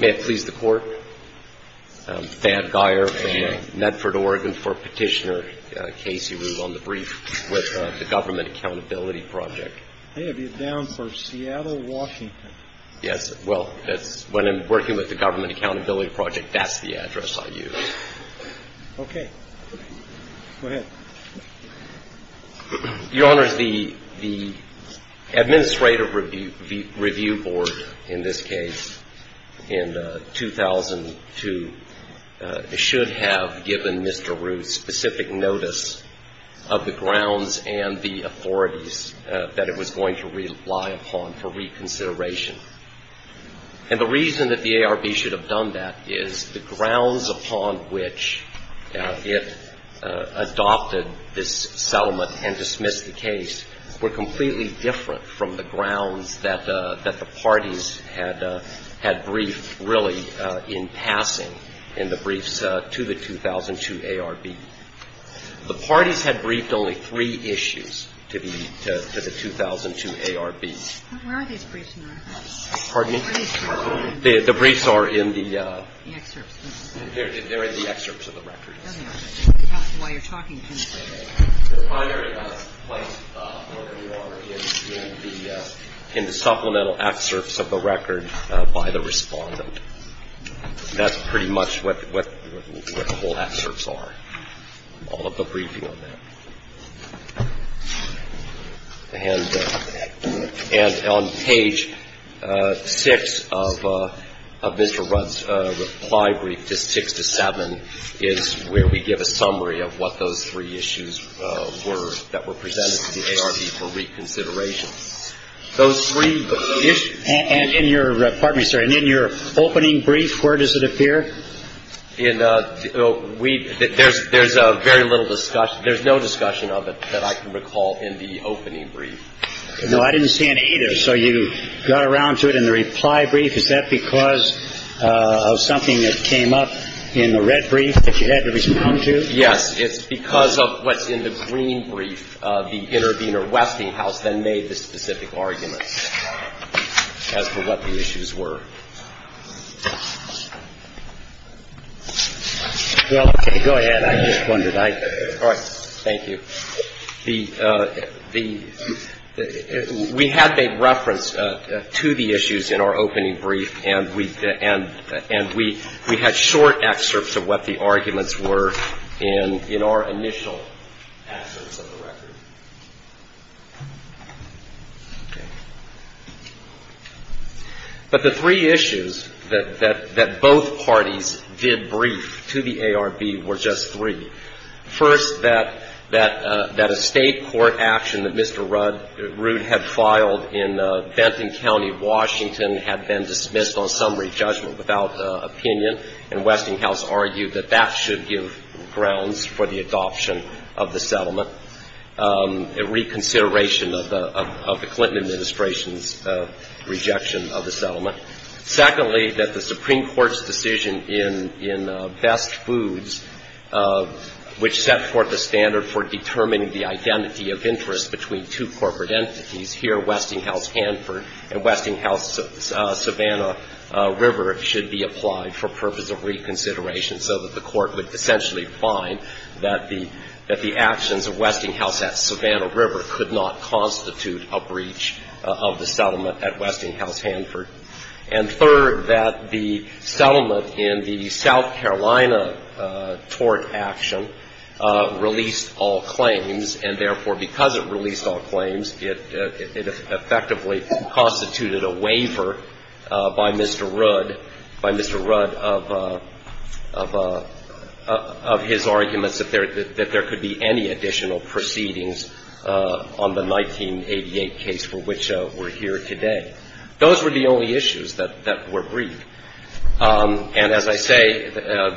May it please the Court, Thad Geyer, Medford, Oregon, for Petitioner Casey Ruud on the brief with the Government Accountability Project. I have you down for Seattle, Washington. Yes, well, when I'm working with the Government Accountability Project, that's the address I use. Okay. Go ahead. Your Honors, the Administrative Review Board, in this case, in 2002, should have given Mr. Ruud specific notice of the grounds and the authorities that it was going to rely upon for reconsideration. And the reason that the ARB should have done that is the grounds upon which it adopted this settlement and dismissed the case were completely different from the grounds that the parties had briefed, really, in passing in the briefs to the 2002 ARB. The parties had briefed only three issues to the 2002 ARB. Where are these briefs in the records? Pardon me? Where are these briefs in the records? The briefs are in the... The excerpts. They're in the excerpts of the records. Okay. That's why you're talking to me. The primary place where they are is in the supplemental excerpts of the record by the respondent. That's pretty much what the whole excerpts are, all of the briefing on that. And on page 6 of Mr. Ruud's reply brief, just 6 to 7, is where we give a summary of what those three issues were that were presented to the ARB for reconsideration. Those three issues... And in your opening brief, where does it appear? There's very little discussion. There's no discussion of it that I can recall in the opening brief. No, I didn't see any either. So you got around to it in the reply brief. Is that because of something that came up in the red brief that you had to respond to? Yes. It's because of what's in the green brief. The intervener Westinghouse then made the specific arguments as to what the issues were. Well, go ahead. I just wondered. All right. Thank you. We had a reference to the issues in our opening brief, and we had short excerpts of what the arguments were in our initial access of the record. But the three issues that both parties did brief to the ARB were just three. First, that a State court action that Mr. Ruud had filed in Benton County, Washington, had been dismissed on summary judgment without opinion, and Westinghouse argued that that should give grounds for the adoption of the settlement, a reconsideration of the Clinton administration's rejection of the settlement. Secondly, that the Supreme Court's decision in Best Foods, which set forth a standard for determining the identity of interest between two corporate entities, here Westinghouse-Hanford and Westinghouse-Savannah River, should be applied for purpose of reconsideration, so that the court would essentially find that the actions of Westinghouse at Savannah River could not constitute a breach of the settlement at Westinghouse-Hanford. And third, that the settlement in the South Carolina tort action released all claims, and therefore, because it released all claims, it effectively constituted a waiver by Mr. Ruud, by Mr. Ruud of his arguments that there could be any additional proceedings on the 1988 case for which we're here today. Those were the only issues that were briefed. And as I say,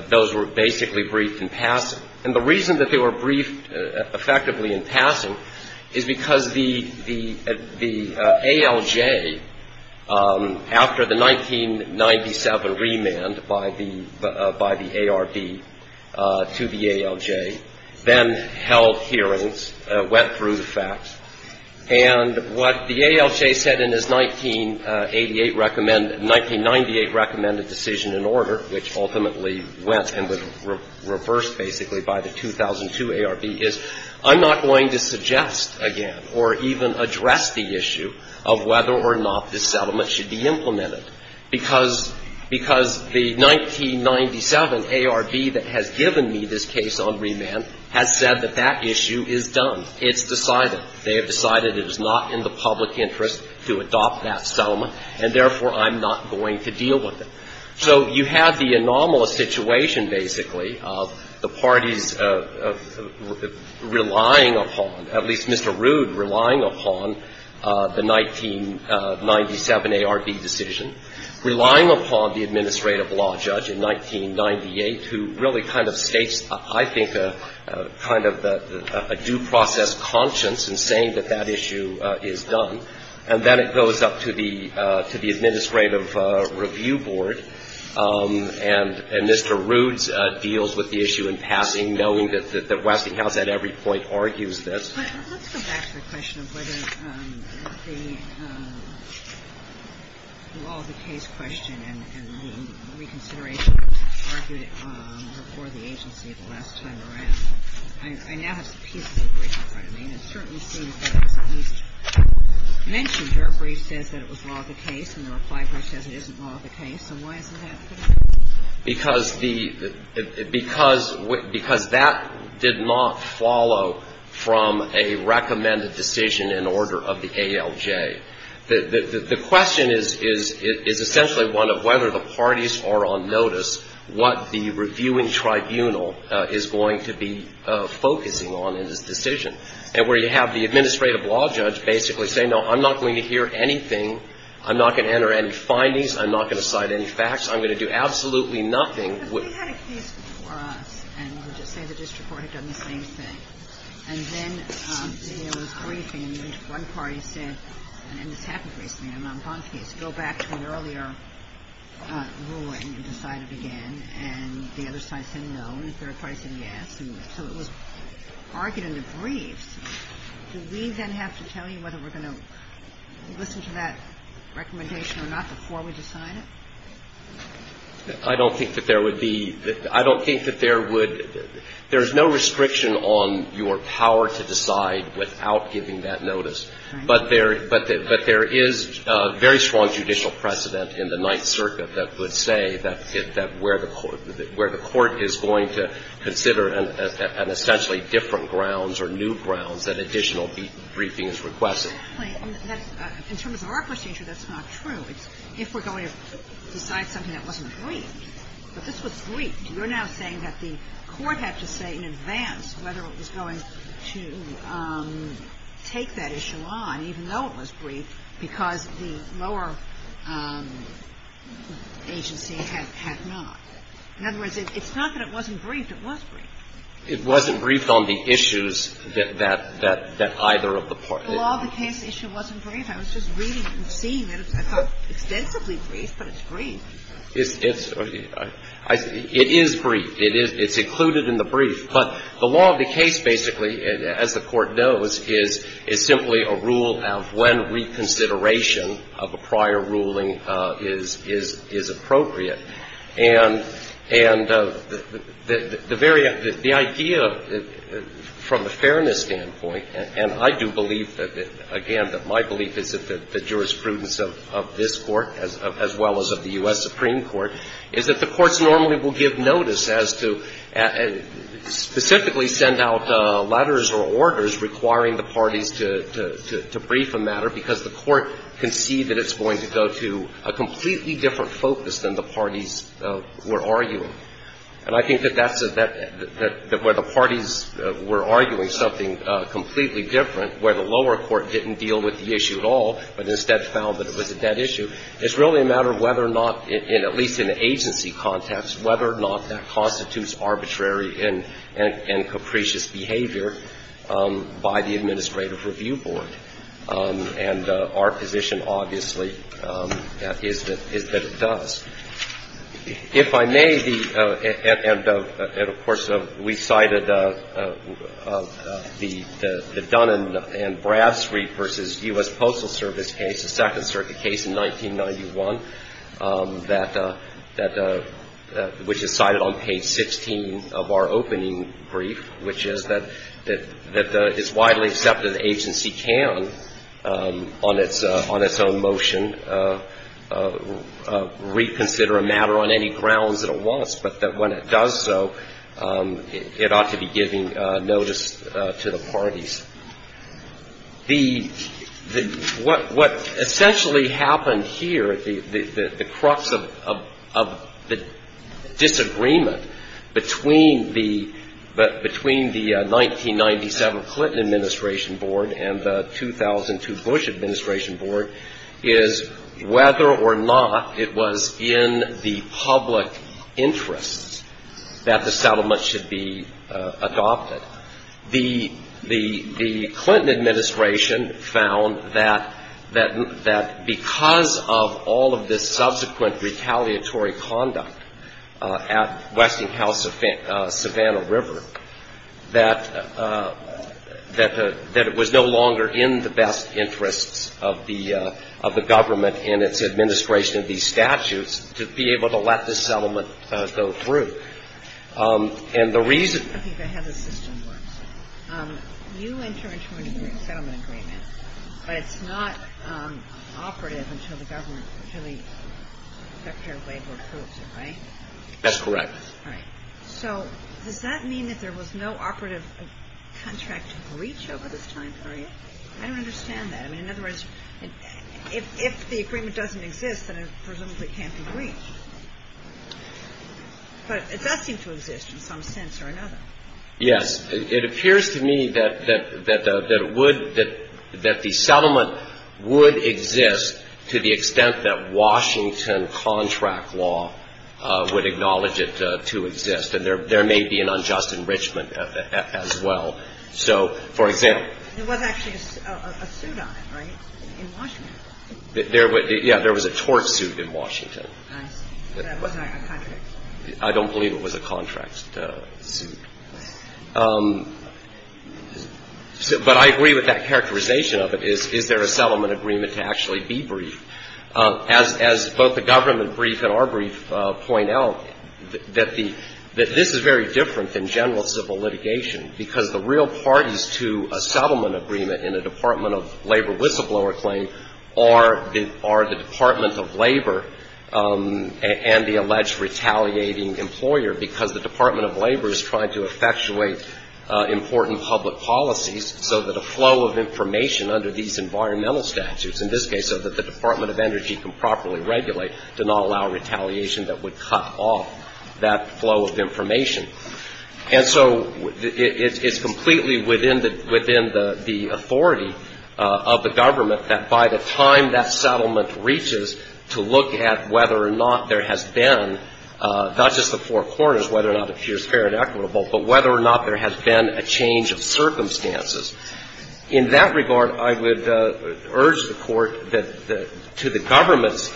those were basically briefed in passing. And the reason that they were briefed effectively in passing is because the ALJ, after the 1997 remand by the ARB to the ALJ, then held hearings, went through the facts. And what the ALJ said in its 1988 recommended 1998 recommended decision in order, which ultimately went and was reversed basically by the 2002 ARB, is I'm not going to suggest again or even address the issue of whether or not this settlement should be implemented, because the 1997 ARB that has given me this case on remand has said that that issue is done. It's decided. They have decided it is not in the public interest to adopt that settlement, and therefore, I'm not going to deal with it. So you have the anomalous situation, basically, of the parties relying upon, at least Mr. Ruud relying upon, the 1997 ARB decision, relying upon the administrative law judge in 1998, who really kind of states, I think, kind of a due process conscience in saying that that issue is done. And then it goes up to the administrative review board, and Mr. Ruud deals with the issue in passing, knowing that the Westinghouse at every point argues this. But let's go back to the question of whether the law of the case question and the reconsideration argued before the agency the last time around. I now have pieces of brief in front of me, and it certainly seems that it's at least mentioned where he says that it was law of the case, and the reply brief says it isn't law of the case. And why is that? Because that did not follow from a recommended decision in order of the ALJ. The question is essentially one of whether the parties are on notice what the reviewing tribunal is going to be focusing on in this decision, and where you have the administrative law judge basically saying, no, I'm not going to hear anything. I'm not going to enter any findings. I'm not going to cite any facts. I'm going to do absolutely nothing. And then there was briefing, and one party said, and this happened recently, a Mont Blanc case. Go back to an earlier ruling and decide it again. And the other side said no, and the third party said yes. So it was argued in the briefs. Do we then have to tell you whether we're going to listen to that recommendation or not before we decide it? I don't think that there would be the – I don't think that there would – there's no restriction on your power to decide without giving that notice. But there is very strong judicial precedent in the Ninth Circuit that would say that where the court is going to consider an essentially different grounds or new grounds that additional briefing is requested. And that's not true. In terms of our procedure, that's not true. If we're going to decide something that wasn't briefed, but this was briefed, you're now saying that the court had to say in advance whether it was going to take that issue on, even though it was briefed, because the lower agency had not. In other words, it's not that it wasn't briefed. It was briefed. It wasn't briefed on the issues that either of the parties. The law of the case issue wasn't briefed. I was just reading it and seeing it. It's not extensively briefed, but it's briefed. It's – it is briefed. It is – it's included in the brief. But the law of the case, basically, as the Court knows, is simply a rule of when reconsideration of a prior ruling is appropriate. And the very – the idea from a fairness standpoint, and I do believe that, again, that my belief is that the jurisprudence of this Court, as well as of the U.S. Supreme Court, is that the courts normally will give notice as to – specifically send out letters or orders requiring the parties to – to brief a matter because the court can see that it's going to go to a completely different focus than the parties were arguing. And I think that that's a – that where the parties were arguing something completely different, where the lower court didn't deal with the issue at all, but instead found that it was a dead issue, it's really a matter of whether or not, at least in the agency context, whether or not that constitutes arbitrary and – and capricious behavior by the Administrative Review Board. And our position, obviously, is that – is that it does. If I may be – and, of course, we cited the Dunn and Bradstreet v. U.S. Postal Service case, the Second Circuit case in 1991, that – which is cited on page 16 of our opening brief, which is that – that the – it's widely accepted the agency can, on its – on its own motion, reconsider a matter on any grounds that it wants, but that when it does so, it ought to be giving notice to the parties. The – the – what – what essentially happened here, the – the crux of – of the disagreement between the – between the 1997 Clinton Administration Board and the 2002 Bush Administration Board is whether or not it was in the public interest that the settlement should be adopted. The – the – the Clinton Administration found that – that – that because of all of this subsequent retaliatory conduct at Westinghouse Savannah River, that – that the – that it was no longer in the best interests of the – of the government in its administration of these statutes to be able to let this settlement go through. And the reason – I think I have a system where you enter into a settlement agreement, but it's not operative until the government – until the Secretary of Labor approves it, right? That's correct. All right. So does that mean that there was no operative contract to breach over this time period? I don't understand that. I mean, in other words, if – if the agreement doesn't exist, then it presumably can't be breached. But it does seem to exist in some sense or another. Yes. It appears to me that – that – that it would – that the settlement would exist to the extent that Washington contract law would acknowledge it to exist. And there may be an unjust enrichment as well. So, for example – There was actually a suit on it, right, in Washington? There – yeah, there was a tort suit in Washington. I see. Was that a contradiction? I don't believe it was a contract suit. But I agree with that characterization of it, is – is there a settlement agreement to actually be briefed? As – as both the government brief and our brief point out, that the – that this is very different than general civil litigation, because the real parties to a settlement agreement in a Department of Labor whistleblower claim are the – are the Department of Labor and the alleged retaliating employer, because the Department of Labor is trying to effectuate important public policies so that a flow of information under these environmental statutes, in this case so that the Department of Energy can properly regulate, do not allow retaliation that would cut off that flow of information. And so it – it's completely within the – within the authority of the government that, by the time that settlement reaches, to look at whether or not there has been not just the four corners, whether or not it appears fair and equitable, but whether or not there has been a change of circumstances. In that regard, I would urge the Court that the – to the government's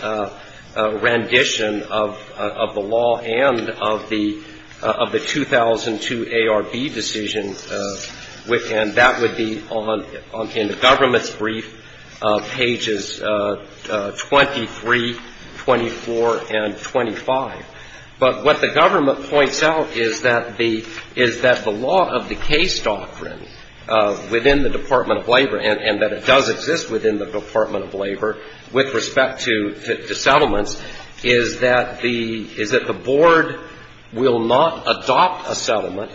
rendition of – of the law and of the – of the 2002 decision, and that would be on – in the government's brief, pages 23, 24, and 25. But what the government points out is that the – is that the law of the case doctrine within the Department of Labor, and that it does exist within the Department of Labor with respect to settlements, is that the – is that the board will not adopt a settlement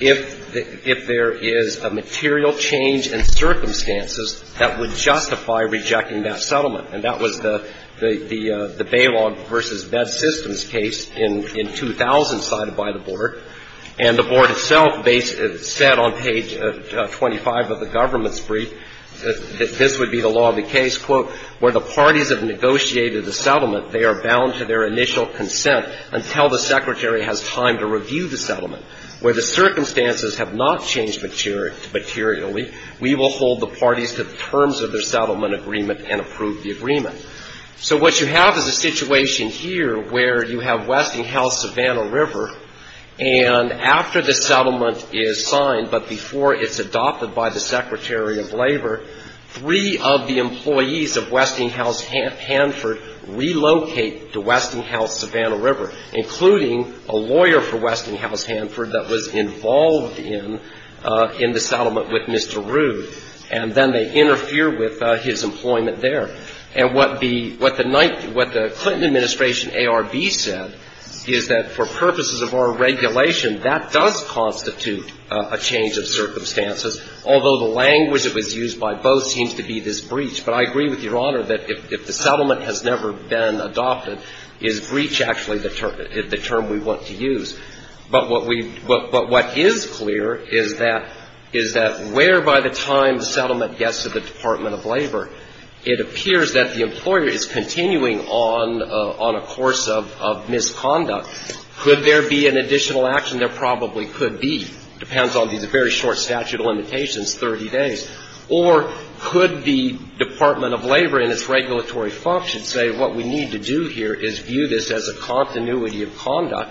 if – if there is a material change in circumstances that would justify rejecting that settlement. And that was the – the – the bailout versus bed systems case in – in 2000 cited by the board. And the board itself said on page 25 of the government's brief that this would be the law of the case, quote, where the parties have negotiated the settlement, they are bound to their initial consent until the secretary has time to review the settlement. Where the circumstances have not changed materially, we will hold the parties to the terms of their settlement agreement and approve the agreement. So what you have is a situation here where you have Westinghouse-Savannah River, and after the settlement is signed, but before it's adopted by the secretary of labor, three of the employees of Westinghouse-Hanford relocate to Westinghouse-Savannah River, including a lawyer for Westinghouse-Hanford that was involved in – in the settlement with Mr. Rood. And then they interfere with his employment there. And what the – what the Clinton Administration ARB said is that for purposes of our regulation, that does constitute a change of circumstances, although the language that was used by both seems to be this breach. But I agree with you. The settlement has never been adopted. Is breach actually the term – the term we want to use? But what we – but what is clear is that – is that where by the time the settlement gets to the Department of Labor, it appears that the employer is continuing on – on a course of – of misconduct. Could there be an additional action? There probably could be. Depends on these very short statute of limitations, 30 days. Or could the Department of Labor in its regulatory function say what we need to do here is view this as a continuity of conduct?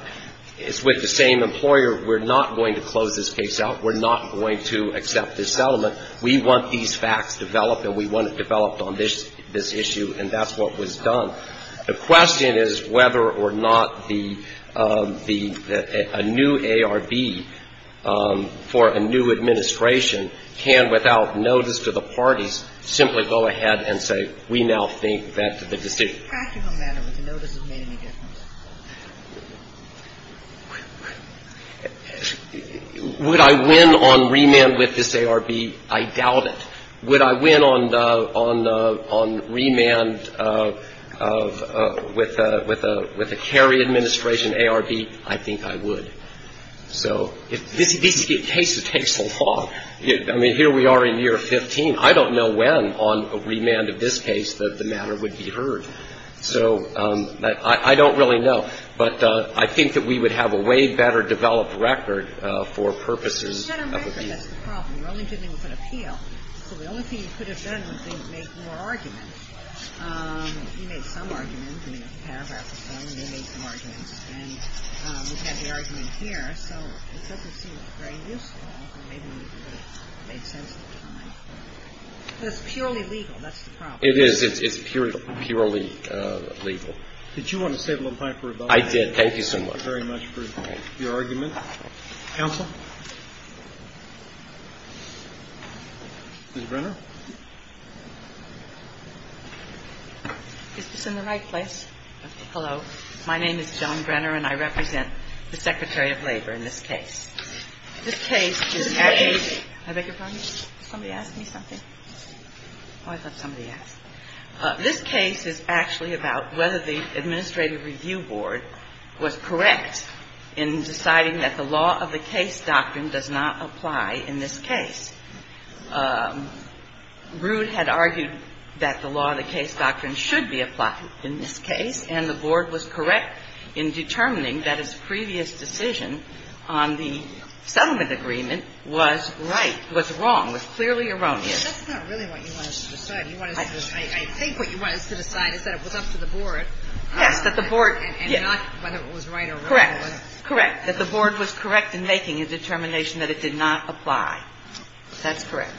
It's with the same employer. We're not going to close this case out. We're not going to accept this settlement. We want these facts developed and we want it developed on this – this issue, and that's what was done. The question is whether or not the – the – a new ARB for a new administration can, without notice to the parties, simply go ahead and say, we now think that the decision – The practical matter was a notice that made any difference. Would I win on remand with this ARB? I doubt it. Would I win on the – on the – on remand of – of – with the – with the Kerry administration ARB? I think I would. So if – this is a case that takes a long – I mean, here we are in year 15. I don't know when on remand of this case that the matter would be heard. So I don't really know. But I think that we would have a way better developed record for purposes of appeal. It's purely legal. That's the problem. It is. It's purely – purely legal. Did you want to say a little bit about that? Thank you very much for your argument. Counsel? Ms. Brenner? Is this in the right place? Hello. My name is Joan Brenner, and I represent the Secretary of Labor in this case. This case is actually – Ms. Brenner. I beg your pardon? Somebody ask me something? Oh, I thought somebody asked. This case is actually about whether the Administrative Review Board was correct in deciding that the law of the case doctrine does not apply in this case. Rood had argued that the law of the case doctrine should be applied in this case, and the Board was correct in determining that its previous decision on the settlement agreement was right – was wrong, was clearly erroneous. That's not really what you want us to decide. I think what you want us to decide is that it was up to the Board. Yes, that the Board – And not whether it was right or wrong. Correct. Correct. That the Board was correct in making a determination that it did not apply. That's correct.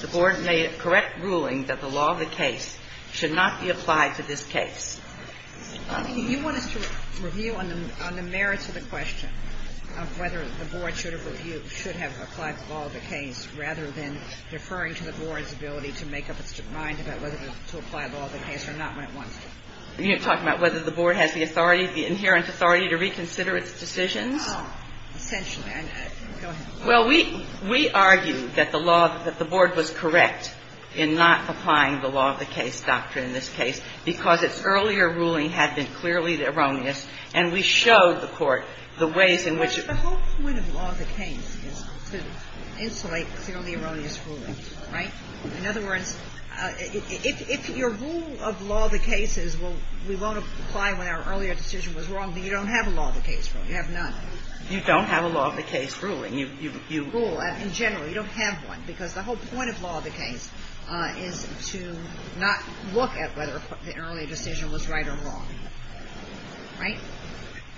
The Board made a correct ruling that the law of the case should not be applied to this case. You want us to review on the merits of the question of whether the Board should have applied the law of the case rather than deferring to the Board's ability to make up its mind about whether to apply the law of the case or not when it wants to? You're talking about whether the Board has the authority, the inherent authority to reconsider its decisions? Essentially. Go ahead. Well, we argue that the law – that the Board was correct in not applying the law of the case doctrine in this case because its earlier ruling had been clearly erroneous, and we showed the Court the ways in which it was. But the whole point of law of the case is to insulate clearly erroneous rulings, right? In other words, if your rule of law of the case is, well, we won't apply when our earlier decision was wrong, then you don't have a law of the case rule. You have none. You don't have a law of the case ruling. You – Rule. In general, you don't have one because the whole point of law of the case is to not look at whether the earlier decision was right or wrong, right?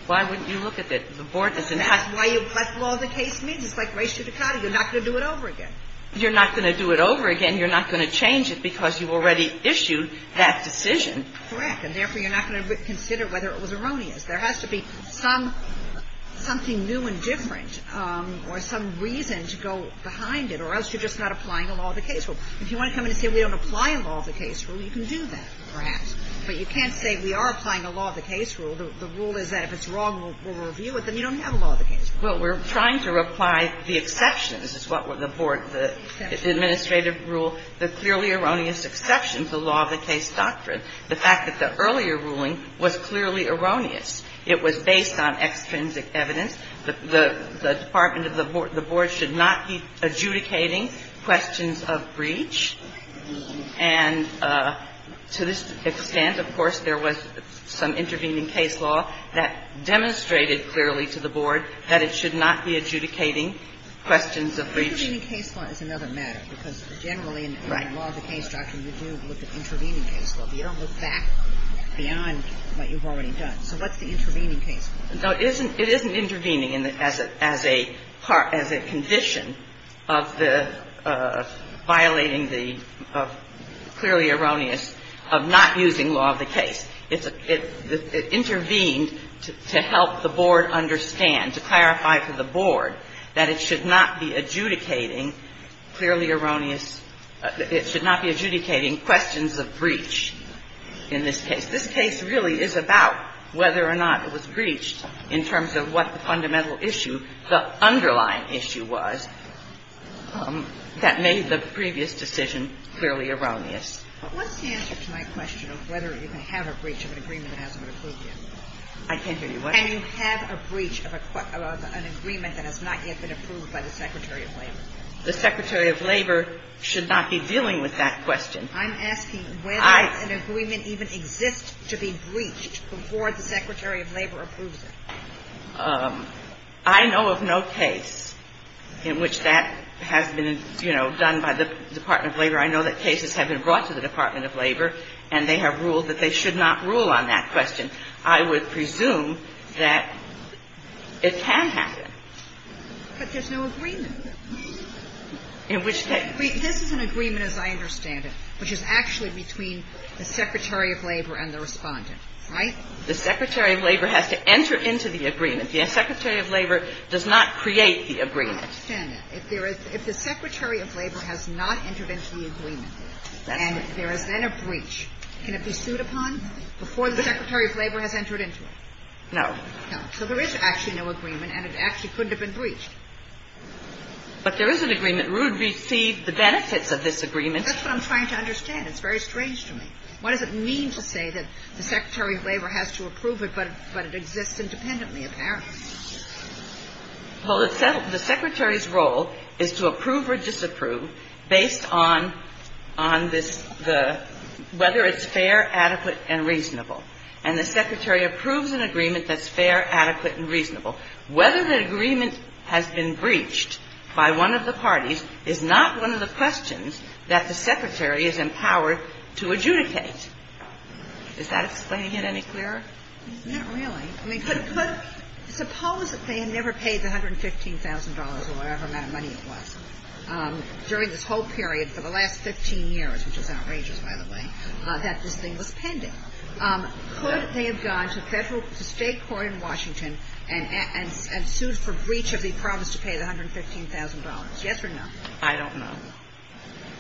Why wouldn't you look at it? The Board doesn't have to. That's why you – that's what law of the case means. It's like res judicata. You're not going to do it over again. You're not going to do it over again. You're not going to change it because you already issued that decision. Correct. And therefore, you're not going to consider whether it was erroneous. There has to be some – something new and different or some reason to go behind it, or else you're just not applying a law of the case rule. If you want to come in and say we don't apply a law of the case rule, you can do that, perhaps. But you can't say we are applying a law of the case rule. The rule is that if it's wrong, we'll review it. Then you don't have a law of the case rule. Well, we're trying to apply the exceptions is what the Board – the administrative rule, the clearly erroneous exceptions, the law of the case doctrine. The fact that the earlier ruling was clearly erroneous, it was based on extrinsic evidence. The Department of the Board should not be adjudicating questions of breach. And to this extent, of course, there was some intervening case law that demonstrated clearly to the Board that it should not be adjudicating questions of breach. Intervening case law is another matter, because generally in the law of the case doctrine, you do look at intervening case law. You don't look back beyond what you've already done. So what's the intervening case law? Now, it isn't – it isn't intervening as a part – as a condition of the violating the clearly erroneous – of not using law of the case. It's a – it intervened to help the Board understand, to clarify to the Board that it should not be adjudicating clearly erroneous – it should not be adjudicating questions of breach in this case. This case really is about whether or not it was breached in terms of what the fundamental issue, the underlying issue was, that made the previous decision clearly erroneous. But what's the answer to my question of whether you can have a breach of an agreement that hasn't been approved yet? I can't hear you. What? Can you have a breach of a – of an agreement that has not yet been approved by the Secretary of Labor? The Secretary of Labor should not be dealing with that question. I'm asking whether an agreement even exists to be breached before the Secretary of Labor approves it. I know of no case in which that has been, you know, done by the Department of Labor. I know that cases have been brought to the Department of Labor, and they have ruled that they should not rule on that question. I would presume that it can happen. But there's no agreement. In which case – But this is an agreement, as I understand it, which is actually between the Secretary of Labor and the Respondent, right? The Secretary of Labor has to enter into the agreement. The Secretary of Labor does not create the agreement. I understand that. If there is – if the Secretary of Labor has not entered into the agreement and there is then a breach, can it be sued upon before the Secretary of Labor has entered into it? No. No. So there is actually no agreement, and it actually couldn't have been breached. But there is an agreement. Rood received the benefits of this agreement. That's what I'm trying to understand. It's very strange to me. What does it mean to say that the Secretary of Labor has to approve it, but it exists independently, apparently? Well, the Secretary's role is to approve or disapprove based on this – the – whether it's fair, adequate, and reasonable. Whether the agreement has been breached by one of the parties is not one of the questions that the Secretary is empowered to adjudicate. Is that explaining it any clearer? It's not really. I mean, could – suppose that they had never paid the $115,000 or whatever amount of money it was during this whole period for the last 15 years, which is outrageous, by the way, that this thing was pending. Could they have gone to Federal – to State court in Washington and sued for breach of the promise to pay the $115,000, yes or no? I don't know.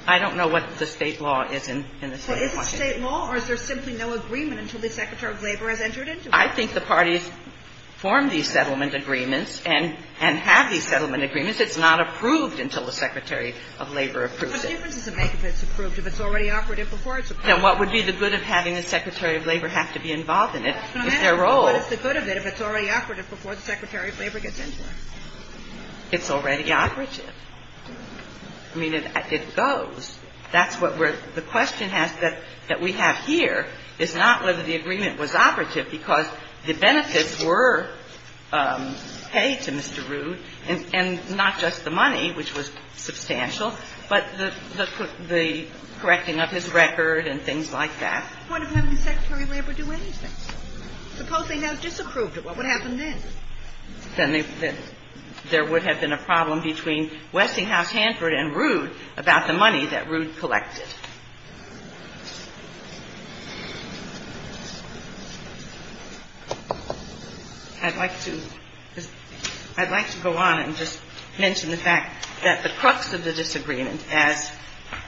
I don't know what the State law is in the State of Washington. But is it State law, or is there simply no agreement until the Secretary of Labor has entered into it? I think the parties form these settlement agreements and have these settlement agreements. It's not approved until the Secretary of Labor approves it. What difference does it make if it's approved, if it's already operative before it's approved? And what would be the good of having the Secretary of Labor have to be involved in it? Is there a role? What's the good of it if it's already operative before the Secretary of Labor gets into it? It's already operative. I mean, it goes. That's what we're – the question has – that we have here is not whether the agreement was operative because the benefits were paid to Mr. Rood, and not just the money, which was substantial, but the correcting of his record and things like that. What if having the Secretary of Labor do anything? Suppose they now disapproved it. What would happen then? Then there would have been a problem between Westinghouse, Hanford, and Rood about the money that Rood collected. I'd like to – I'd like to go on and just mention the fact that the crux of the disagreement, as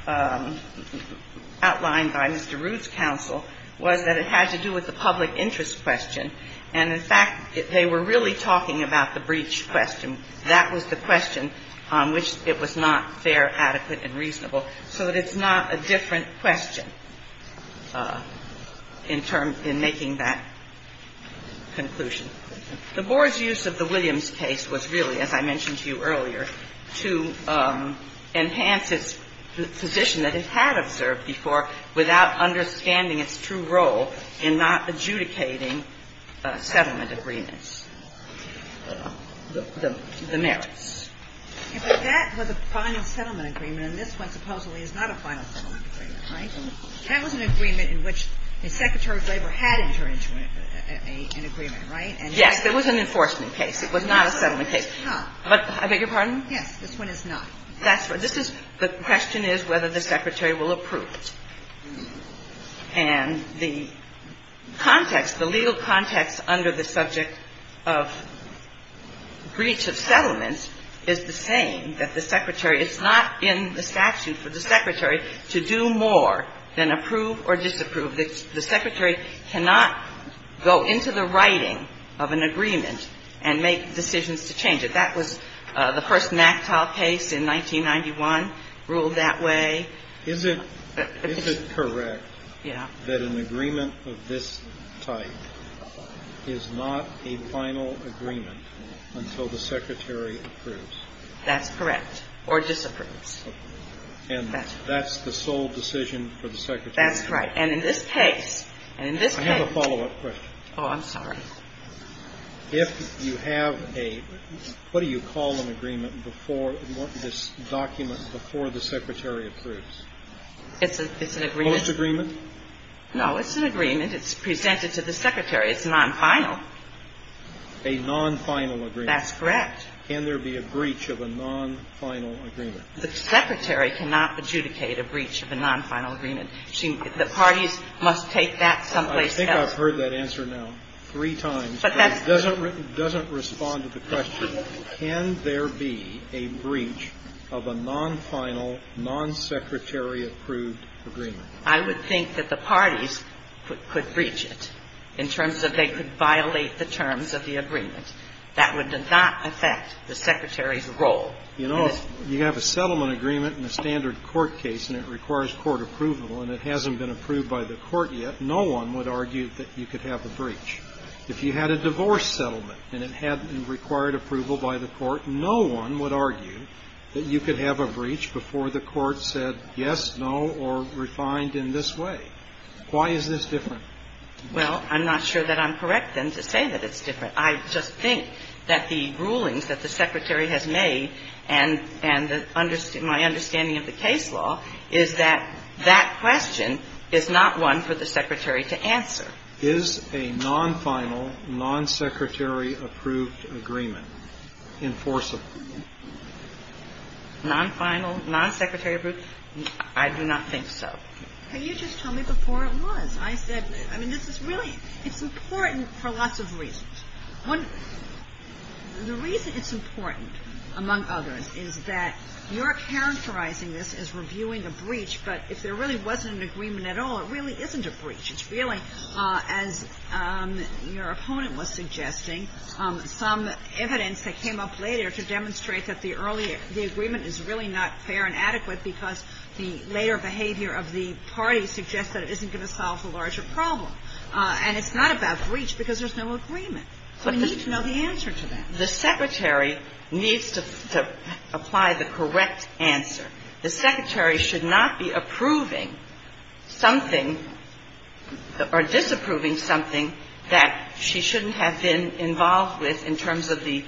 outlined by Mr. Rood's counsel, was that it had to do with the public interest question. And, in fact, they were really talking about the breach question. That was the question on which it was not fair, adequate, and reasonable. So that it's not a different question in terms – in making that conclusion. The Board's use of the Williams case was really, as I mentioned to you earlier, to enhance its position that it had observed before without understanding its true role in not adjudicating settlement agreements, the merits. And that was a final settlement agreement, and this one supposedly is not a final settlement agreement, right? That was an agreement in which the Secretary of Labor had entered into an agreement, right? Yes. There was an enforcement case. It was not a settlement case. But I beg your pardon? Yes. This one is not. That's what – this is – the question is whether the Secretary will approve. And the context, the legal context under the subject of breach of settlement agreements is the same that the Secretary – it's not in the statute for the Secretary to do more than approve or disapprove. The Secretary cannot go into the writing of an agreement and make decisions to change it. That was the first NACTILE case in 1991 ruled that way. Is it correct that an agreement of this type is not a final agreement until the Secretary approves? That's correct. Or disapproves. And that's the sole decision for the Secretary? That's right. And in this case – and in this case – I have a follow-up question. Oh, I'm sorry. If you have a – what do you call an agreement before – this document before the Secretary approves? It's an agreement. Fullest agreement? No. It's an agreement. It's presented to the Secretary. It's non-final. A non-final agreement. That's correct. Can there be a breach of a non-final agreement? The Secretary cannot adjudicate a breach of a non-final agreement. The parties must take that someplace else. I think I've heard that answer now three times, but it doesn't respond to the question. Can there be a breach of a non-final, non-Secretary-approved agreement? I would think that the parties could breach it in terms of they could violate the agreement. That would not affect the Secretary's role. You know, if you have a settlement agreement in a standard court case and it requires court approval and it hasn't been approved by the court yet, no one would argue that you could have a breach. If you had a divorce settlement and it had required approval by the court, no one would argue that you could have a breach before the court said yes, no, or refined in this way. Why is this different? Well, I'm not sure that I'm correct, then, to say that it's different. I just think that the rulings that the Secretary has made and my understanding of the case law is that that question is not one for the Secretary to answer. Is a non-final, non-Secretary-approved agreement enforceable? Non-final, non-Secretary-approved? I do not think so. Can you just tell me before it was? I said, I mean, this is really, it's important for lots of reasons. One, the reason it's important, among others, is that you're characterizing this as reviewing a breach, but if there really wasn't an agreement at all, it really isn't a breach. It's really, as your opponent was suggesting, some evidence that came up later to demonstrate that the earlier, the agreement is really not fair and that there's a larger problem. And it's not about breach because there's no agreement. So we need to know the answer to that. The Secretary needs to apply the correct answer. The Secretary should not be approving something or disapproving something that she shouldn't have been involved with in terms of the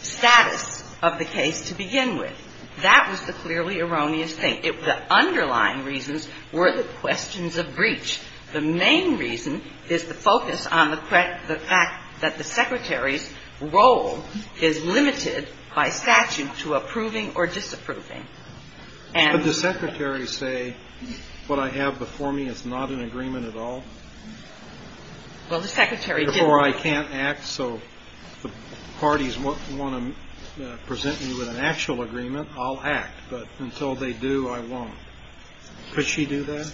status of the case to begin with. That was the clearly erroneous thing. The underlying reasons were the questions of breach. The main reason is the focus on the fact that the Secretary's role is limited by statute to approving or disapproving. And the Secretary say what I have before me is not an agreement at all? Well, the Secretary didn't. Or I can't act, so if the parties want to present me with an actual agreement, I'll act. But until they do, I won't. Could she do that?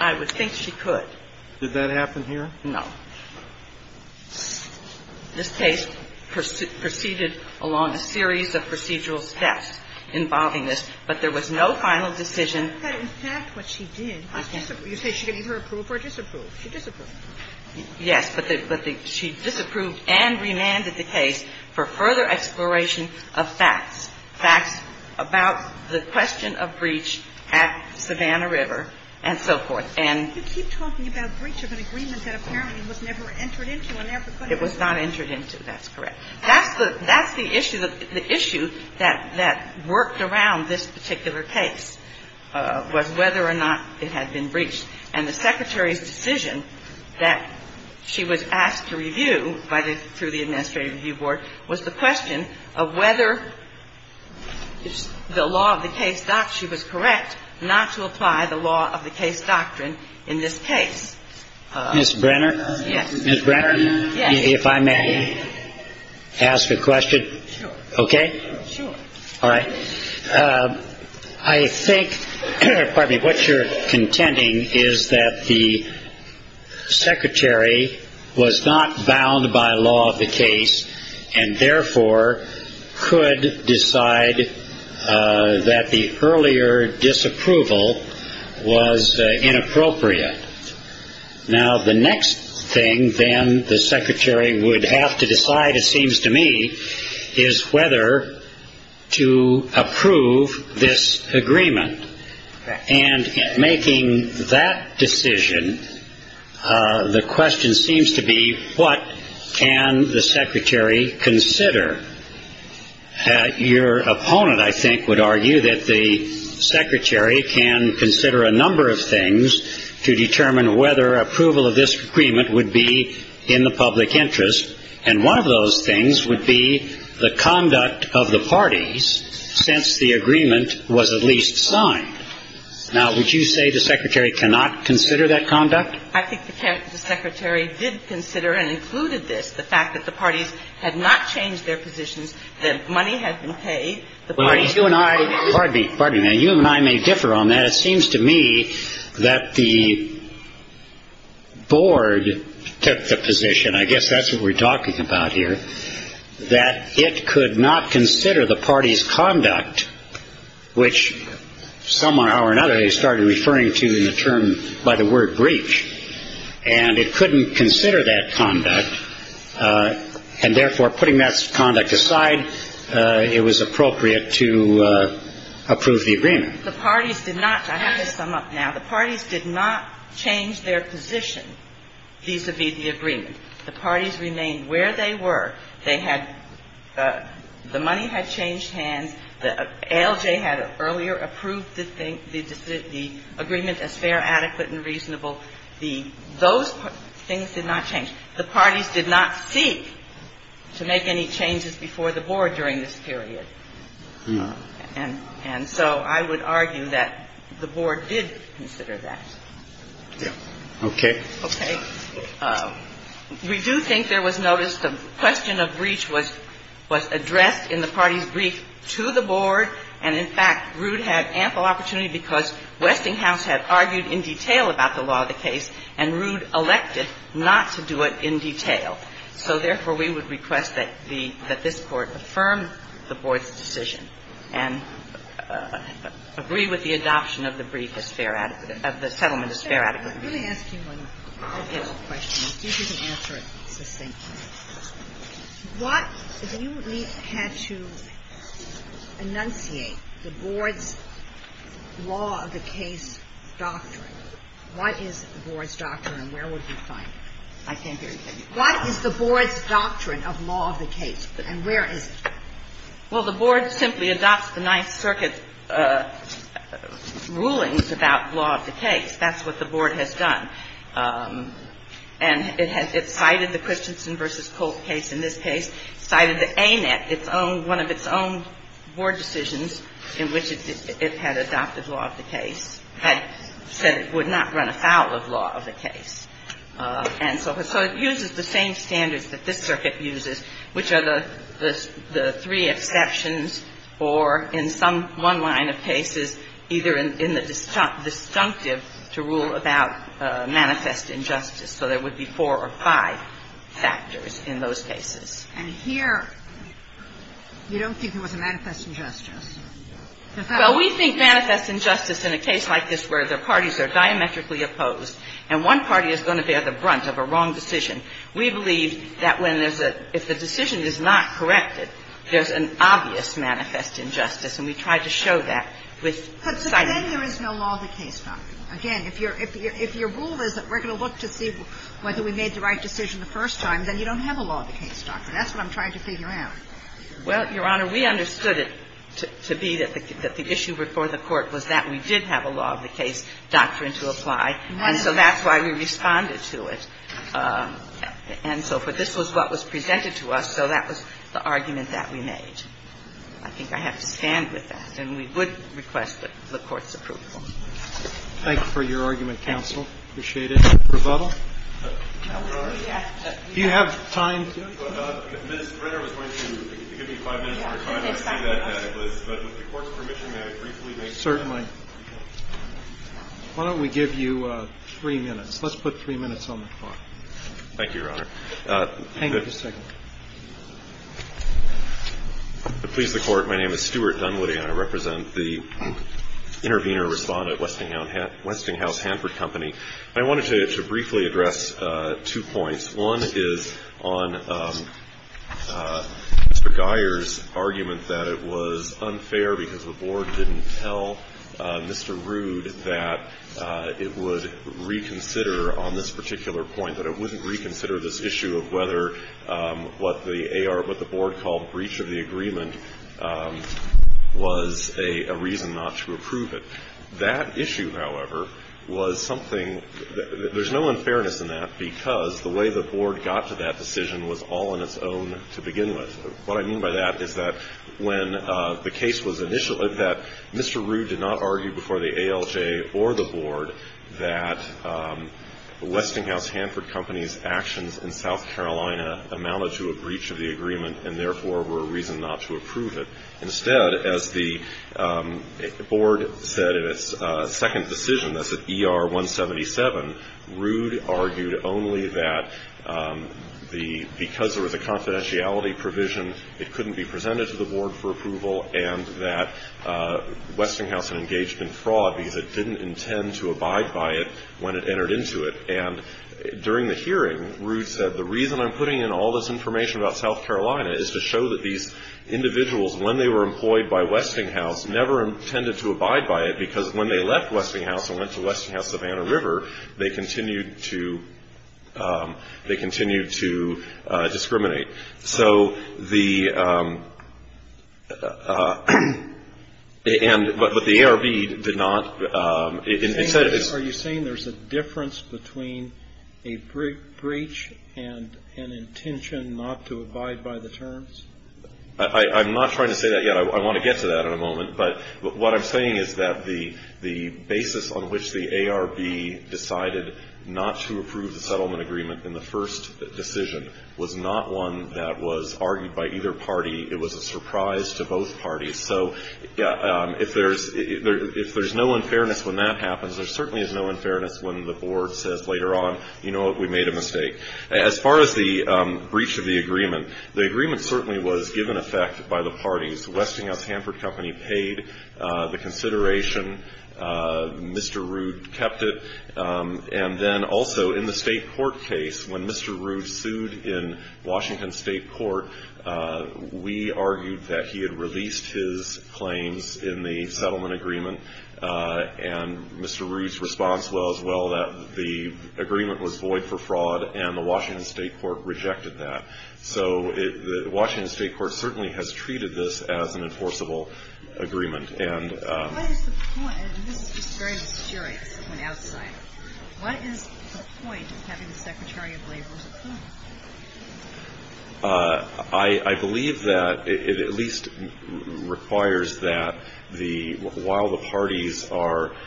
I would think she could. Did that happen here? No. This case proceeded along a series of procedural steps involving this, but there was no final decision. But in fact, what she did was disapprove. You say she didn't approve or disapprove. She disapproved. Yes. But she disapproved and remanded the case for further exploration of facts, facts about the question of breach at Savannah River and so forth. And you keep talking about breach of an agreement that apparently was never entered into and never could have been. It was not entered into. That's correct. That's the issue that worked around this particular case, was whether or not it had been breached. And the Secretary's decision that she was asked to review by the – through the Administrative Review Board was the question of whether the law of the case – she was correct not to apply the law of the case doctrine in this case. Ms. Brenner? Yes. Ms. Brenner? Yes. Sure. Okay? Sure. All right. I think – pardon me. What you're contending is that the Secretary was not bound by law of the case and therefore could decide that the earlier disapproval was inappropriate. Now, the next thing then the Secretary would have to decide, it seems to me, is whether to approve this agreement. Correct. And in making that decision, the question seems to be what can the Secretary consider? Your opponent, I think, would argue that the Secretary can consider a number of things to determine whether approval of this agreement would be in the public interest, and one of those things would be the conduct of the parties since the agreement was at least signed. Now, would you say the Secretary cannot consider that conduct? I think the Secretary did consider and included this, the fact that the parties had not changed their positions, that money had been paid, the parties – Well, you and I – pardon me. Pardon me. Now, you and I may differ on that. It seems to me that the board took the position, I guess that's what we're talking about here, that it could not consider the parties' conduct, which some way or another they started referring to in the term by the word breach, and it couldn't consider that conduct, and therefore putting that conduct aside, it was appropriate to approve the agreement. The parties did not – I have to sum up now. The parties did not change their position vis-à-vis the agreement. The parties remained where they were. They had – the money had changed hands. ALJ had earlier approved the agreement as fair, adequate, and reasonable. The – those things did not change. The parties did not seek to make any changes before the board during this period. And so I would argue that the board did consider that. Yes. Okay. Okay. We do think there was notice the question of breach was addressed in the parties' brief to the board, and in fact, Rood had ample opportunity because Westinghouse had argued in detail about the law of the case, and Rood elected not to do it in detail. So therefore, we would request that the – that this Court affirm the board's decision and agree with the adoption of the brief as fair – of the settlement as fair, adequate, and reasonable. Let me ask you one follow-up question. I'll give you the answer at the same time. What – if you had to enunciate the board's law of the case doctrine, what is the board's doctrine and where would you find it? I can't hear you. What is the board's doctrine of law of the case and where is it? Well, the board simply adopts the Ninth Circuit's rulings about law of the case. That's what the board has done. And it cited the Christensen v. Colt case in this case, cited the ANET, its own – one of its own board decisions in which it had adopted law of the case, had said it would not run afoul of law of the case. And so it uses the same standards that this Circuit uses, which are the three exceptions or, in some one line of cases, either in the disjunctive to rule about manifest injustice. So there would be four or five factors in those cases. And here you don't think it was a manifest injustice. Well, we think manifest injustice in a case like this where the parties are diametrically opposed and one party is going to bear the brunt of a wrong decision, we believe that when there's a – if the decision is not corrected, there's an obvious manifest injustice, and we tried to show that with citing – But then there is no law of the case doctrine. Again, if your rule is that we're going to look to see whether we made the right decision the first time, then you don't have a law of the case doctrine. That's what I'm trying to figure out. Well, Your Honor, we understood it to be that the issue before the Court was that we did have a law of the case doctrine to apply, and so that's why we responded to it, and so forth. This was what was presented to us, so that was the argument that we made. I think I have to stand with that, and we would request the Court's approval. Thank you for your argument, counsel. Appreciate it. Rebuttal? Do you have time? Mr. Brenner was going to give me five minutes more time to see that. But with the Court's permission, may I briefly make a comment? Certainly. Why don't we give you three minutes? Let's put three minutes on the clock. Thank you, Your Honor. Hang on just a second. To please the Court, my name is Stuart Dunwoody. I represent the intervener-respondent Westinghouse Hanford Company. I wanted to briefly address two points. One is on Mr. Guyer's argument that it was unfair because the Board didn't tell Mr. Rood that it would reconsider on this particular point, that it wouldn't reconsider this issue of whether what the AR or what the Board called breach of the agreement was a reason not to approve it. That issue, however, was something – there's no unfairness in that because the way the Board got to that decision was all on its own to begin with. What I mean by that is that when the case was initially – that Mr. Rood did not argue before the ALJ or the Board that Westinghouse Hanford Company's actions in South Carolina amounted to a breach of the agreement and therefore were a reason not to approve it. Instead, as the Board said in its second decision, that's at ER 177, Rood argued only that the – because there was a confidentiality provision, it couldn't be presented to the Board for approval and that Westinghouse had engaged in fraud because it didn't intend to abide by it when it entered into it. And during the hearing, Rood said, the reason I'm putting in all this information about South Carolina is to show that these individuals, when they were employed by Westinghouse, never intended to abide by it because when they left Westinghouse and went to Westinghouse-Savannah River, they continued to discriminate. So the – and – but the ARB did not – it said – Are you saying there's a difference between a breach and an intention not to abide by the terms? I'm not trying to say that yet. I want to get to that in a moment. But what I'm saying is that the basis on which the ARB decided not to approve the settlement agreement in the first decision was not one that was argued by either party. It was a surprise to both parties. So if there's – if there's no unfairness when that happens, there certainly is no unfairness when the Board says later on, you know what, we made a mistake. As far as the breach of the agreement, the agreement certainly was given effect by the parties. Westinghouse Hanford Company paid the consideration. Mr. Rood kept it. And then also in the state court case, when Mr. Rood sued in Washington State Court, we argued that he had released his claims in the settlement agreement. And Mr. Rood's response was, well, that the agreement was void for fraud, and the Washington State Court rejected that. So the Washington State Court certainly has treated this as an enforceable agreement. And – What is the point – and this is just very disjointed when outside. What is the point of having the Secretary of Labor's opinion? I believe that it at least requires that the – while the parties are –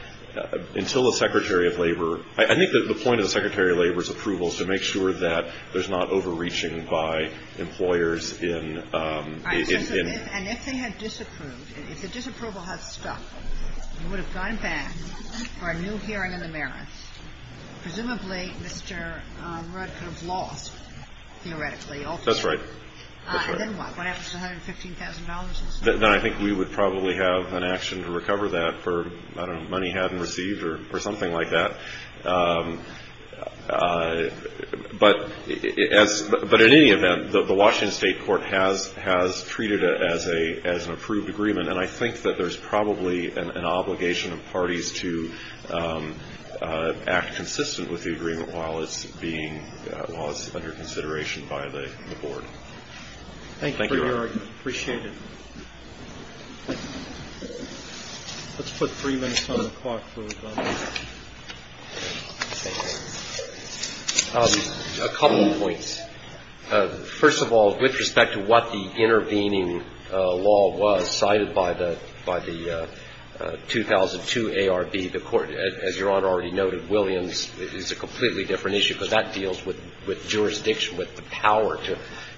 until the Secretary of Labor – I think the point of the Secretary of Labor's approval is to make sure that there's not overreaching by employers in – And if they had disapproved, if the disapproval had stopped, you would have gone back for a new hearing in the merits. Presumably Mr. Rood could have lost, theoretically. That's right. And then what? What happens to $115,000? Then I think we would probably have an action to recover that for, I don't know, money hadn't received or something like that. But as – but in any event, the Washington State Court has treated it as an approved agreement. And I think that there's probably an obligation of parties to act consistent with the agreement while it's being – while it's under consideration by the board. Thank you for your argument. Appreciate it. Let's put three minutes on the clock for a moment. A couple of points. First of all, with respect to what the intervening law was cited by the – by the 2002 ARB, the Court, as Your Honor already noted, Williams, is a completely different issue, because that deals with jurisdiction, with the power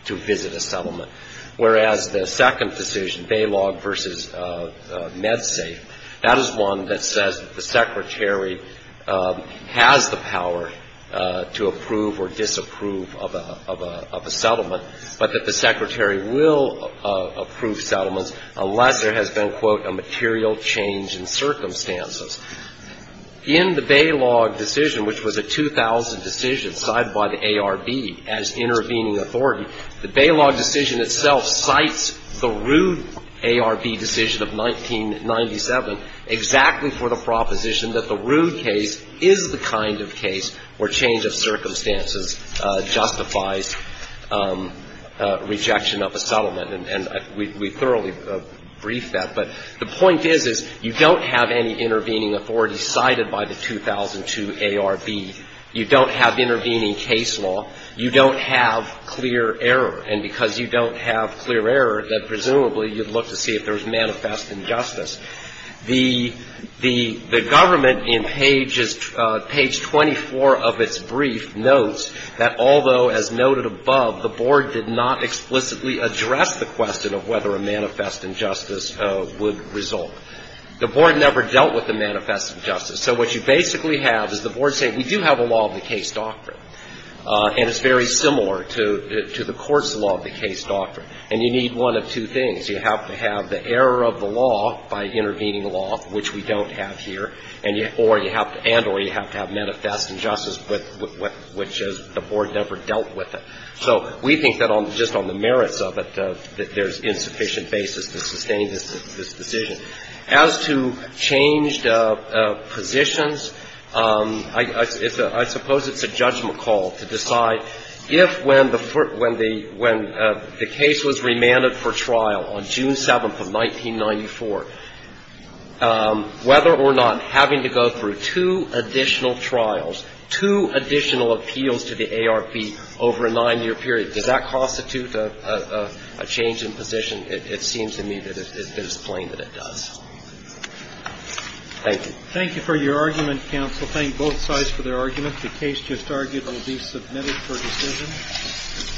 to visit a settlement. Whereas the second decision, Balog v. MedSafe, that is one that says the Secretary has the power to approve or disapprove of a settlement, but that the Secretary will approve settlements unless there has been, quote, a material change in circumstances. In the Balog decision, which was a 2000 decision cited by the ARB as intervening authority, the Balog decision itself cites the Rude ARB decision of 1997 exactly for the proposition that the Rude case is the kind of case where change of circumstances justifies rejection of a settlement. And we thoroughly briefed that. But the point is, is you don't have any intervening authority cited by the 2002 ARB. You don't have intervening case law. You don't have clear error. And because you don't have clear error, then presumably you'd look to see if there was manifest injustice. The government, in page 24 of its brief, notes that although, as noted above, the Board did not explicitly address the question of whether a manifest injustice would result. The Board never dealt with the manifest injustice. So what you basically have is the Board saying, we do have a law of the case doctrine, and it's very similar to the court's law of the case doctrine. And you need one of two things. You have to have the error of the law by intervening law, which we don't have here, or you have to have manifest injustice, which the Board never dealt with it. So we think that just on the merits of it, that there's insufficient basis to sustain this decision. As to changed positions, I suppose it's a judgment call to decide if when the case was remanded for trial, on June 7th of 1994, whether or not having to go through two additional trials, two additional appeals to the ARP over a nine-year period, does that constitute a change in position? It seems to me that it is plain that it does. Thank you. Thank you for your argument, counsel. Thank both sides for their arguments. The case just argued will be submitted for decision. Thank you.